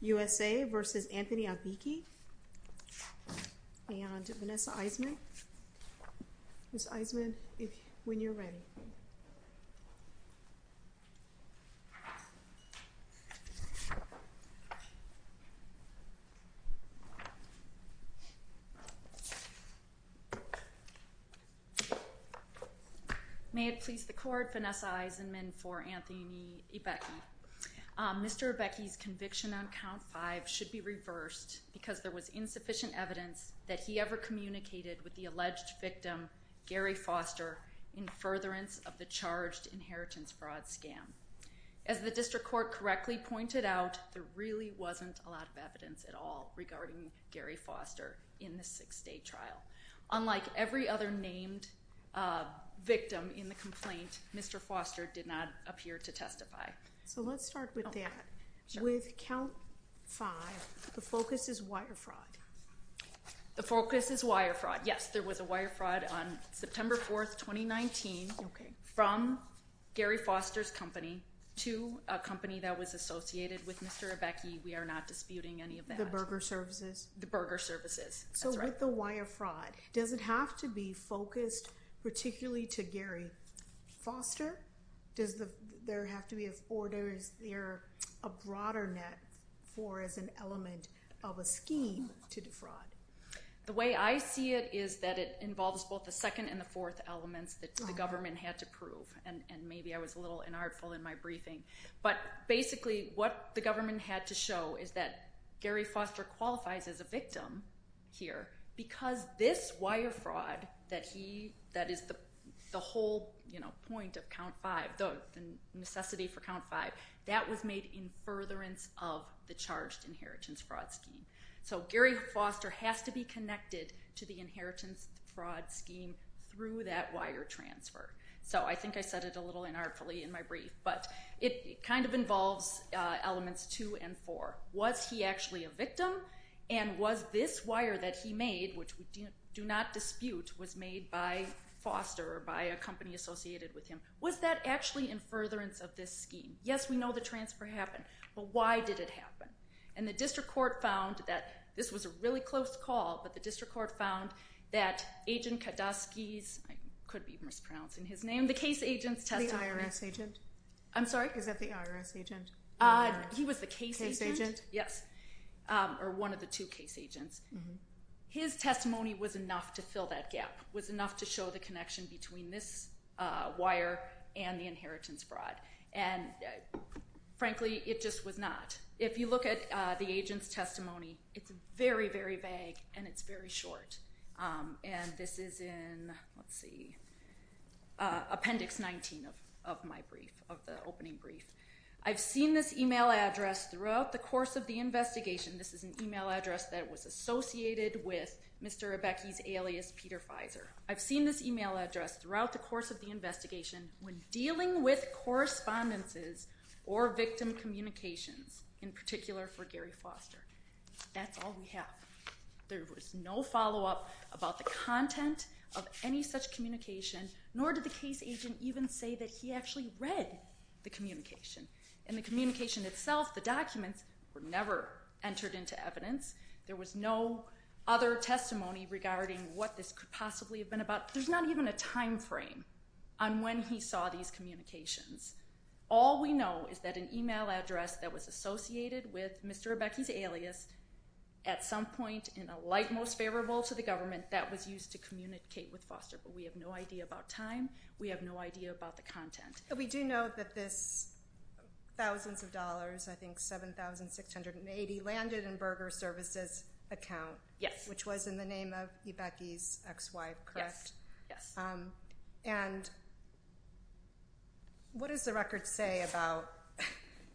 and Vanessa Eisenman. Ms. Eisenman, when you're ready. May it please the court, Vanessa Eisenman for Anthony Ibekie. Mr. Ibekie's conviction on count five should be reversed because there was insufficient evidence that he ever communicated with the alleged victim, Gary Foster, in furtherance of the charged inheritance fraud scam. As the district court correctly pointed out, there really wasn't a lot of evidence at all regarding Gary Foster in the six day trial. Unlike every other named victim in the complaint, Mr. Foster did not appear to testify. So let's start with that. With count five, the focus is wire fraud. The focus is wire fraud. Yes, there was a wire fraud on September 4th, 2019 from Gary Foster's company to a company that was associated with Mr. Ibekie. We are not disputing any of that. The burger services? The burger services. So with the wire fraud, does it have to be focused particularly to Gary Foster? Does there have to be a broader net for as an element of a scheme to defraud? The way I see it is that it involves both the second and the fourth elements that the government had to prove. And maybe I was a little inartful in my briefing. But basically what the government had to show is that Gary Foster qualifies as a victim here because this wire fraud that is the whole point of count five, the necessity for count five, that was made in furtherance of the charged inheritance fraud scheme. So Gary Foster has to be connected to the inheritance fraud scheme through that wire transfer. So I think I said it a little inartfully in my brief. But it kind of involves elements two and four. Was he actually a victim? And was this wire that he made, which we do not dispute, was made by Foster or by a company associated with him? Was that actually in furtherance of this scheme? Yes, we know the transfer happened. But why did it happen? And the district court found that this was a really close call. But the district court found that Agent Kodosky's, I could be mispronouncing his name, the case agent's testimony. The IRS agent? I'm sorry? Is that the IRS agent? He was the case agent. Yes. Or one of the two case agents. His testimony was enough to fill that gap, was enough to show the connection between this wire and the inheritance fraud. And frankly, it just was not. If you look at the agent's testimony, it's very, very vague and it's very short. And this is in, let's see, Appendix 19 of my brief, of the opening brief. I've seen this email address throughout the course of the investigation. This is an email address that was associated with Mr. Rebecki's alias, Peter Fizer. I've seen this email address throughout the course of the investigation when dealing with correspondences or victim communications, in particular for Gary Foster. That's all we have. There was no follow-up about the content of any such communication, nor did the case agent even say that he actually read the communication. And the communication itself, the documents, were never entered into evidence. There was no other testimony regarding what this could possibly have been about. There's not even a time frame on when he saw these communications. All we know is that an email address that was associated with Mr. Rebecki's alias, at some point in a light most favorable to the government, that was used to communicate with Foster. But we have no idea about time. We have no idea about the content. We do know that this thousands of dollars, I think $7,680, landed in Berger Services' account, which was in the name of Rebecki's ex-wife, correct? Yes. And what does the record say about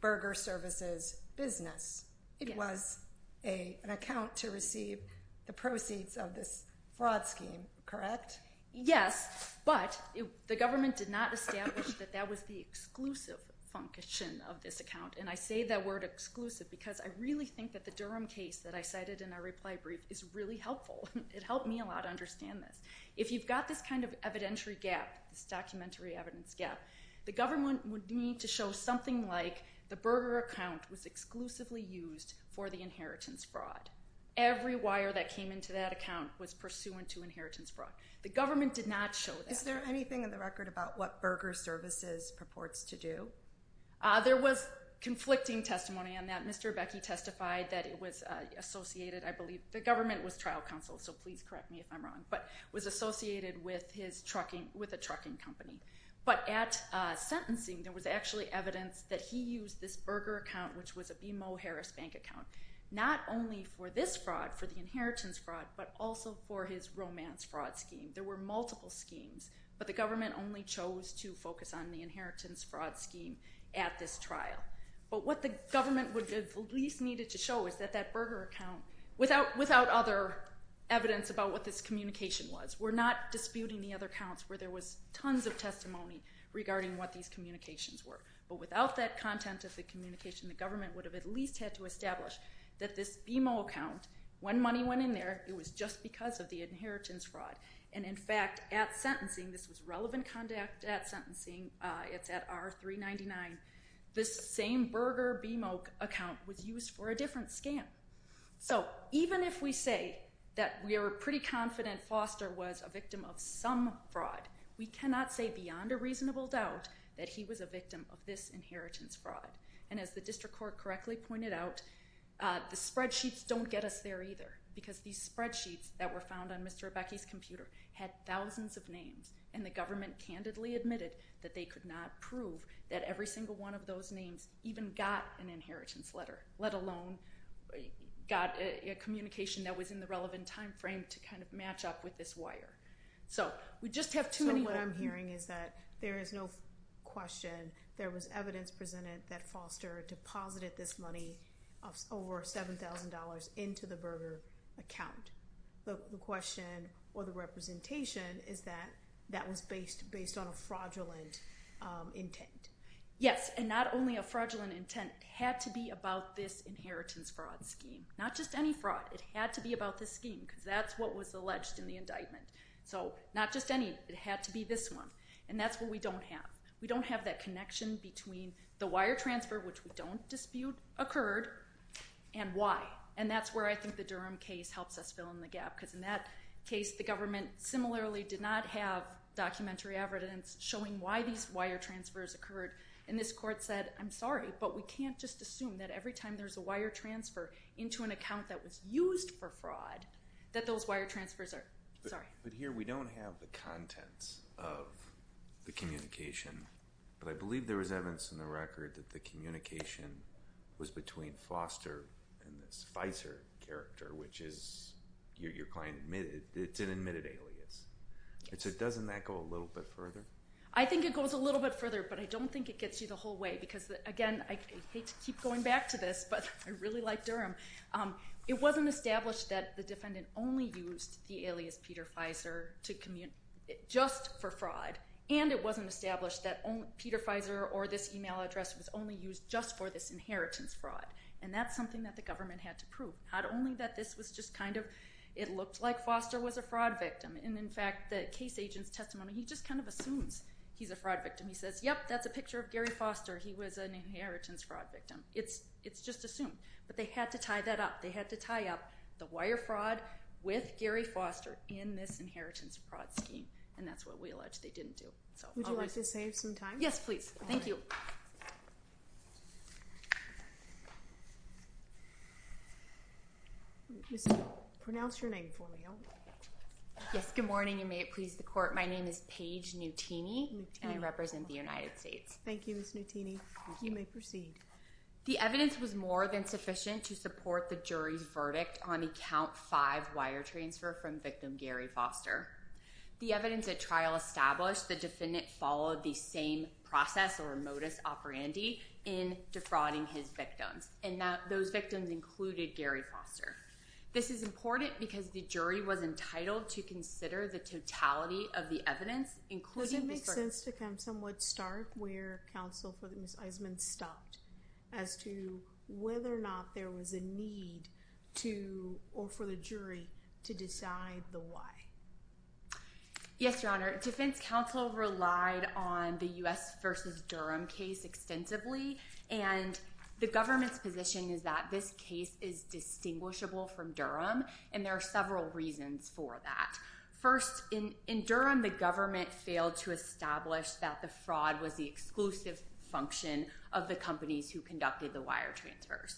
Berger Services' business? It was an account to receive the proceeds of this fraud scheme, correct? Yes, but the government did not establish that that was the exclusive function of this account. And I say that word exclusive because I really think that the Durham case that I cited in our reply brief is really helpful. It helped me a lot to understand this. If you've got this kind of evidentiary gap, this documentary evidence gap, the government would need to show something like the Berger account was exclusively used for the inheritance fraud. Every wire that came into that account was pursuant to inheritance fraud. The government did not show that. Is there anything in the record about what Berger Services purports to do? There was conflicting testimony on that. Mr. Rebecki testified that it was associated, I believe, the government was trial counsel, so please correct me if I'm wrong, but was associated with a trucking company. But at sentencing, there was actually evidence that he used this Berger account, which was a BMO Harris Bank account, not only for this fraud, for the inheritance fraud, but also for his romance fraud scheme. There were multiple schemes, but the government only chose to focus on the inheritance fraud scheme at this trial. But what the government at least needed to show is that that Berger account, without other evidence about what this communication was, we're not disputing the other accounts where there was tons of testimony regarding what these communications were. But without that content of the communication, the government would have at least had to establish that this BMO account, when money went in there, it was just because of the inheritance fraud. And, in fact, at sentencing, this was relevant conduct at sentencing, it's at R-399, this same Berger BMO account was used for a different scam. So even if we say that we are pretty confident Foster was a victim of some fraud, we cannot say beyond a reasonable doubt that he was a victim of this inheritance fraud. And as the district court correctly pointed out, the spreadsheets don't get us there either, because these spreadsheets that were found on Mr. Rebecki's computer had thousands of names, and the government candidly admitted that they could not prove that every single one of those names even got an inheritance letter, let alone got a communication that was in the relevant timeframe to kind of match up with this wire. So we just have too many... So what I'm hearing is that there is no question there was evidence presented that Foster deposited this money of over $7,000 into the Berger account. The question, or the representation, is that that was based on a fraudulent intent. Yes, and not only a fraudulent intent, it had to be about this inheritance fraud scheme. Not just any fraud, it had to be about this scheme, because that's what was alleged in the indictment. So not just any, it had to be this one, and that's what we don't have. We don't have that connection between the wire transfer, which we don't dispute, occurred, and why. And that's where I think the Durham case helps us fill in the gap, because in that case the government similarly did not have documentary evidence showing why these wire transfers occurred, and this court said, I'm sorry, but we can't just assume that every time there's a wire transfer into an account that was used for fraud that those wire transfers are... But here we don't have the contents of the communication, but I believe there was evidence in the record that the communication was between Foster and this Pfizer character, which is your client admitted, it's an admitted alias. So doesn't that go a little bit further? I think it goes a little bit further, but I don't think it gets you the whole way, because again, I hate to keep going back to this, but I really like Durham. It wasn't established that the defendant only used the alias Peter Pfizer just for fraud, and it wasn't established that Peter Pfizer or this email address was only used just for this inheritance fraud. And that's something that the government had to prove. Not only that this was just kind of, it looked like Foster was a fraud victim, and in fact the case agent's testimony, he just kind of assumes he's a fraud victim. He says, yep, that's a picture of Gary Foster. He was an inheritance fraud victim. It's just assumed. But they had to tie that up. They had to tie up the wire fraud with Gary Foster in this inheritance fraud scheme, and that's what we allege they didn't do. Would you like to save some time? Yes, please. Thank you. Pronounce your name for me. Yes, good morning, and may it please the court. My name is Paige Nutini, and I represent the United States. Thank you, Ms. Nutini. You may proceed. The evidence was more than sufficient to support the jury's verdict on Account 5 wire transfer from victim Gary Foster. The evidence at trial established the defendant followed the same process or modus operandi in defrauding his victims, and those victims included Gary Foster. This is important because the jury was entitled to consider the totality of the evidence, including the search. Does it make sense to somewhat start where counsel for Ms. Eisman stopped as to whether or not there was a need for the jury to decide the why? Yes, Your Honor. Defense counsel relied on the U.S. v. Durham case extensively, and the government's position is that this case is distinguishable from Durham, and there are several reasons for that. First, in Durham the government failed to establish that the fraud was the exclusive function of the companies who conducted the wire transfers.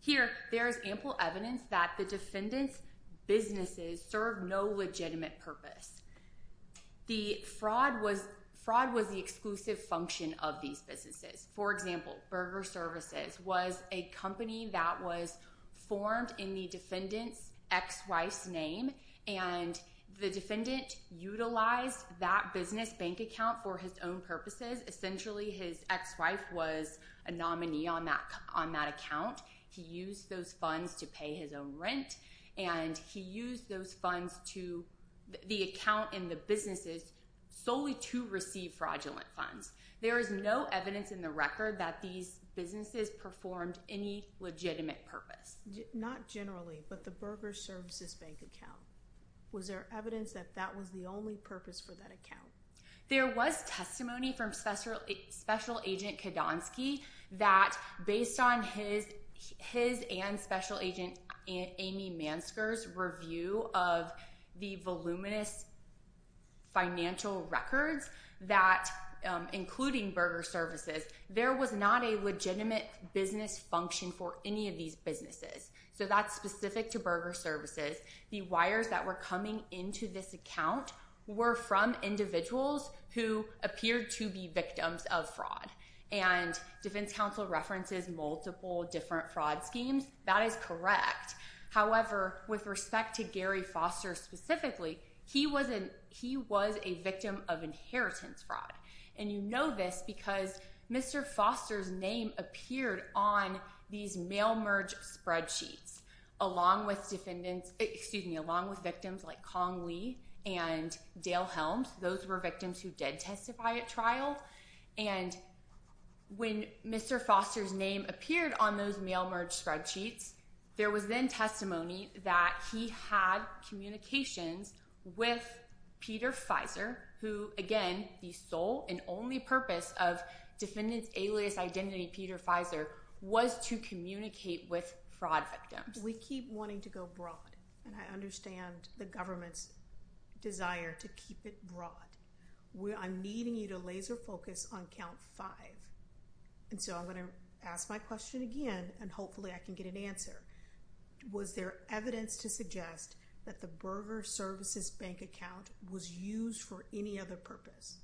Here there is ample evidence that the defendant's businesses served no legitimate purpose. The fraud was the exclusive function of these businesses. For example, Burger Services was a company that was formed in the defendant's ex-wife's name, and the defendant utilized that business bank account for his own purposes. Essentially his ex-wife was a nominee on that account. He used those funds to pay his own rent, and he used the account in the businesses solely to receive fraudulent funds. There is no evidence in the record that these businesses performed any legitimate purpose. Not generally, but the Burger Services bank account. Was there evidence that that was the only purpose for that account? There was testimony from Special Agent Kadonsky that based on his and Special Agent Amy Mansker's review of the voluminous financial records including Burger Services, there was not a legitimate business function for any of these businesses. That's specific to Burger Services. The wires that were coming into this account were from individuals who appeared to be victims of fraud. Defense counsel references multiple different fraud schemes. That is correct. However, with respect to Gary Foster specifically, he was a victim of inheritance fraud. You know this because Mr. Foster's name appeared on these mail merge spreadsheets along with victims like Kong Lee and Dale Helms. Those were victims who did testify at trial. When Mr. Foster's name appeared on those mail merge spreadsheets, there was then testimony that he had communications with Peter Fizer, who again, the sole and only purpose of defendant's alias identity, Peter Fizer, was to communicate with fraud victims. We keep wanting to go broad. I understand the government's desire to keep it broad. I'm needing you to laser focus on count five. I'm going to ask my question again and hopefully I can get an answer. Was there evidence to suggest that the Burger Services bank account was used for any other purpose?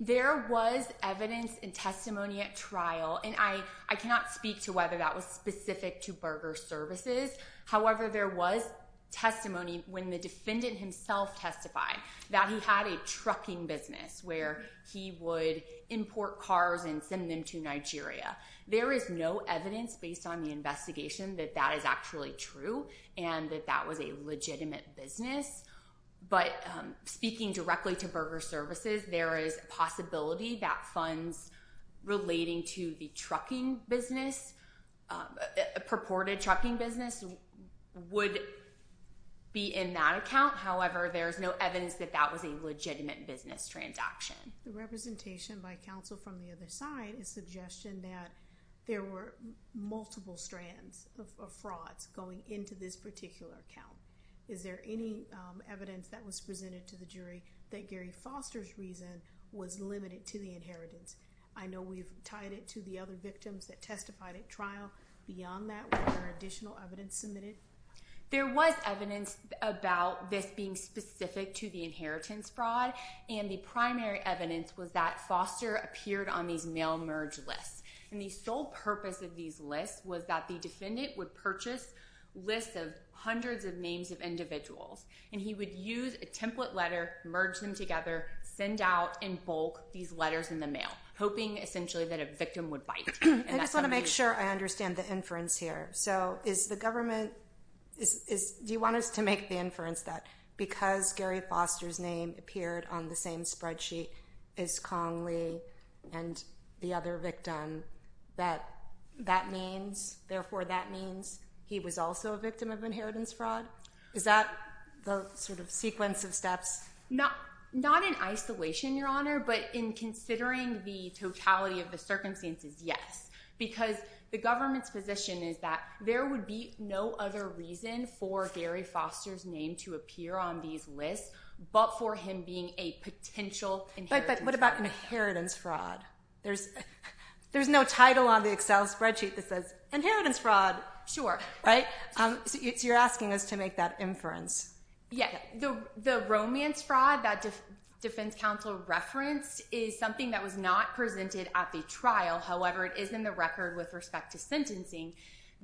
There was evidence and testimony at trial, and I cannot speak to whether that was specific to Burger Services. However, there was testimony when the defendant himself testified that he had a trucking business where he would import cars and send them to Nigeria. There is no evidence based on the investigation that that is actually true and that that was a legitimate business. But speaking directly to Burger Services, there is a possibility that funds relating to the trucking business, purported trucking business, would be in that account. However, there is no evidence that that was a legitimate business transaction. The representation by counsel from the other side is suggestion that there were multiple strands of frauds going into this particular account. Is there any evidence that was presented to the jury that Gary Foster's reason was limited to the inheritance? I know we've tied it to the other victims that testified at trial. Beyond that, were there additional evidence submitted? There was evidence about this being specific to the inheritance fraud, and the primary evidence was that Foster appeared on these mail merge lists. And the sole purpose of these lists was that the defendant would purchase lists of hundreds of names of individuals, and he would use a template letter, merge them together, send out in bulk these letters in the mail, hoping essentially that a victim would bite. I just want to make sure I understand the inference here. Do you want us to make the inference that because Gary Foster's name appeared on the same spreadsheet as Kong Lee and the other victim, that means, therefore, that means he was also a victim of inheritance fraud? Is that the sort of sequence of steps? Not in isolation, Your Honor, but in considering the totality of the circumstances, yes. Because the government's position is that there would be no other reason for Gary Foster's name to appear on these lists but for him being a potential inheritance fraud. But what about inheritance fraud? There's no title on the Excel spreadsheet that says inheritance fraud. Sure. Right? So you're asking us to make that inference. Yes. The romance fraud that defense counsel referenced is something that was not presented at the trial. However, it is in the record with respect to sentencing.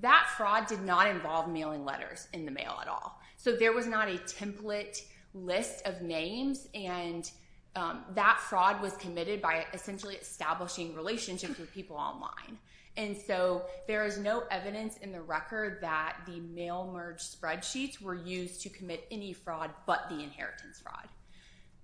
That fraud did not involve mailing letters in the mail at all. So there was not a template list of names, and that fraud was committed by essentially establishing relationships with people online. And so there is no evidence in the record that the mail merge spreadsheets were used to commit any fraud but the inheritance fraud.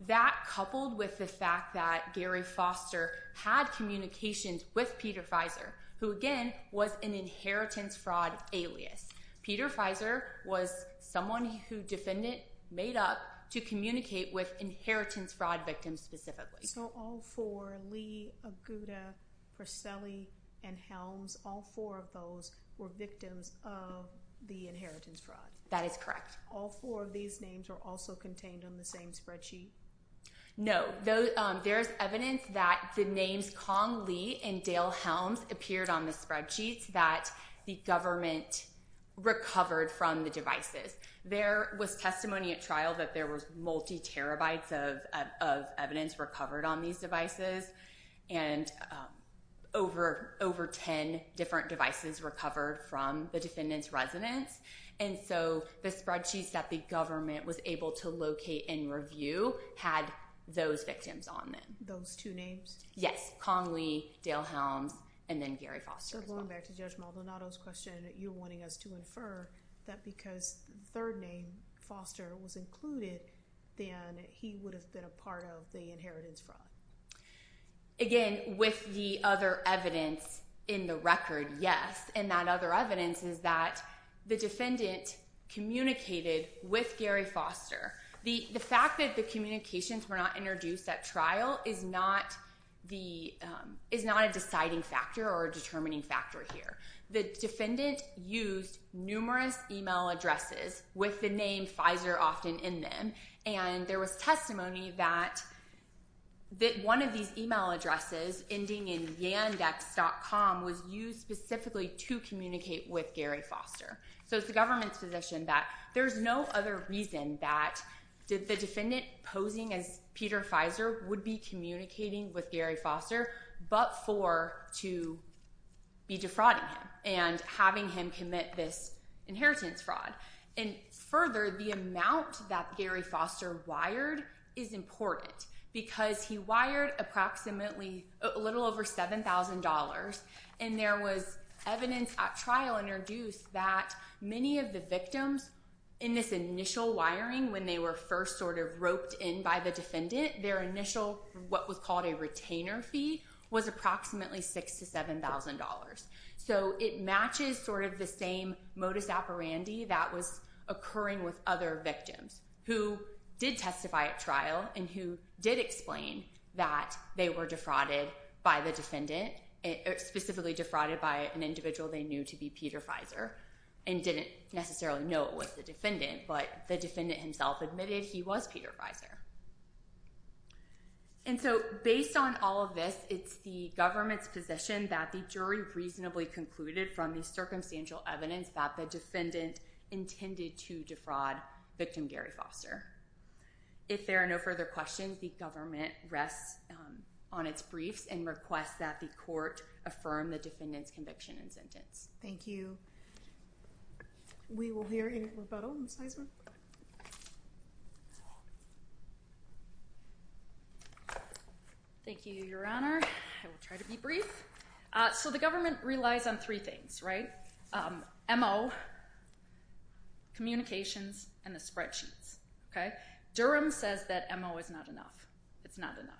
That coupled with the fact that Gary Foster had communications with Peter Fizer, who, again, was an inheritance fraud alias. Peter Fizer was someone who defendant made up to communicate with inheritance fraud victims specifically. So all four, Lee, Aguda, Perselli, and Helms, all four of those were victims of the inheritance fraud. That is correct. All four of these names are also contained on the same spreadsheet? No. There is evidence that the names Kong Lee and Dale Helms appeared on the spreadsheet recovered from the devices. There was testimony at trial that there was multi-terabytes of evidence recovered on these devices, and over 10 different devices recovered from the defendant's residence. And so the spreadsheets that the government was able to locate and review had those victims on them. Those two names? Yes. Kong Lee, Dale Helms, and then Gary Foster. Going back to Judge Maldonado's question, you're wanting us to infer that because the third name, Foster, was included, then he would have been a part of the inheritance fraud. Again, with the other evidence in the record, yes. And that other evidence is that the defendant communicated with Gary Foster. The fact that the communications were not introduced at trial is not a deciding factor or a determining factor here. The defendant used numerous email addresses with the name Pfizer often in them, and there was testimony that one of these email addresses ending in yandex.com was used specifically to communicate with Gary Foster. So it's the government's position that there's no other reason that the defendant posing as Peter Pfizer would be communicating with Gary Foster, but for to be defrauding him and having him commit this inheritance fraud. And further, the amount that Gary Foster wired is important because he wired approximately a little over $7,000, and there was evidence at trial introduced that many of the victims in this initial wiring when they were first sort of roped in by the defendant, their initial what was called a retainer fee was approximately $6,000 to $7,000. So it matches sort of the same modus operandi that was occurring with other victims who did testify at trial and who did explain that they were defrauded by the defendant, specifically defrauded by an individual they knew to be Peter Pfizer and didn't necessarily know it was the defendant, but the defendant himself admitted he was Peter Pfizer. And so based on all of this, it's the government's position that the jury reasonably concluded from the circumstantial evidence that the defendant intended to defraud victim Gary Foster. If there are no further questions, the government rests on its briefs and requests that the court affirm the defendant's conviction and sentence. Thank you. We will hear in rebuttal. Thank you, Your Honor. I will try to be brief. So the government relies on three things, right? MO, communications and the spreadsheets. Okay. Durham says that MO is not enough. It's not enough.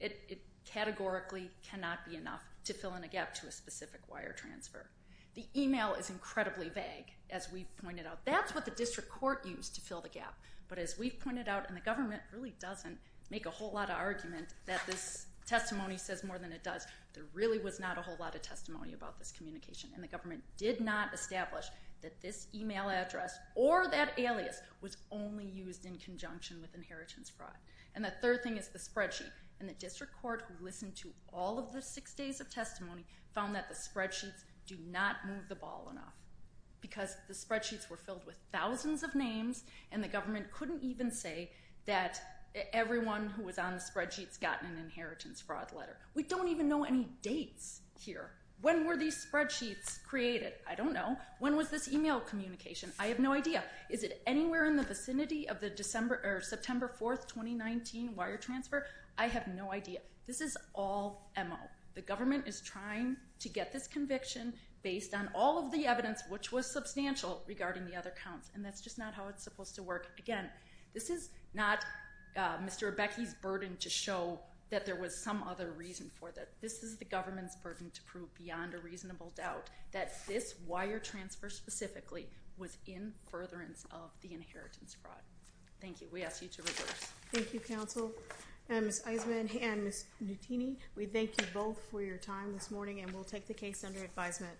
It categorically cannot be enough to fill in a gap to a specific wire transfer. The email is incredibly vague. As we've pointed out, that's what the district court used to fill the gap. But as we've pointed out, and the government really doesn't make a whole lot of argument that this testimony says more than it does. There really was not a whole lot of testimony about this communication and the government did not establish that this email address or that alias was only used in conjunction with inheritance fraud. And the third thing is the spreadsheet. And the district court listened to all of the six days of testimony found that the spreadsheets do not move the ball enough because the spreadsheets were filled with thousands of names and the government couldn't even say that everyone who was on the spreadsheets gotten an inheritance fraud letter. We don't even know any dates here. When were these spreadsheets created? I don't know. When was this email communication? I have no idea. Is it anywhere in the vicinity of the December or September 4th, 2019 wire transfer? I have no idea. This is all MO. The government is trying to get this conviction based on all of the And that's just not how it's supposed to work. this is not Mr. Becky's burden to show that there was some other reason for that. This is the government's burden to prove beyond a reasonable doubt that this wire transfer specifically was in furtherance of the inheritance fraud. Thank you. We ask you to reverse. Thank you, counsel and Ms. Eisman and Ms. Nutini. We thank you both for your time this morning and we'll take the case under advisement.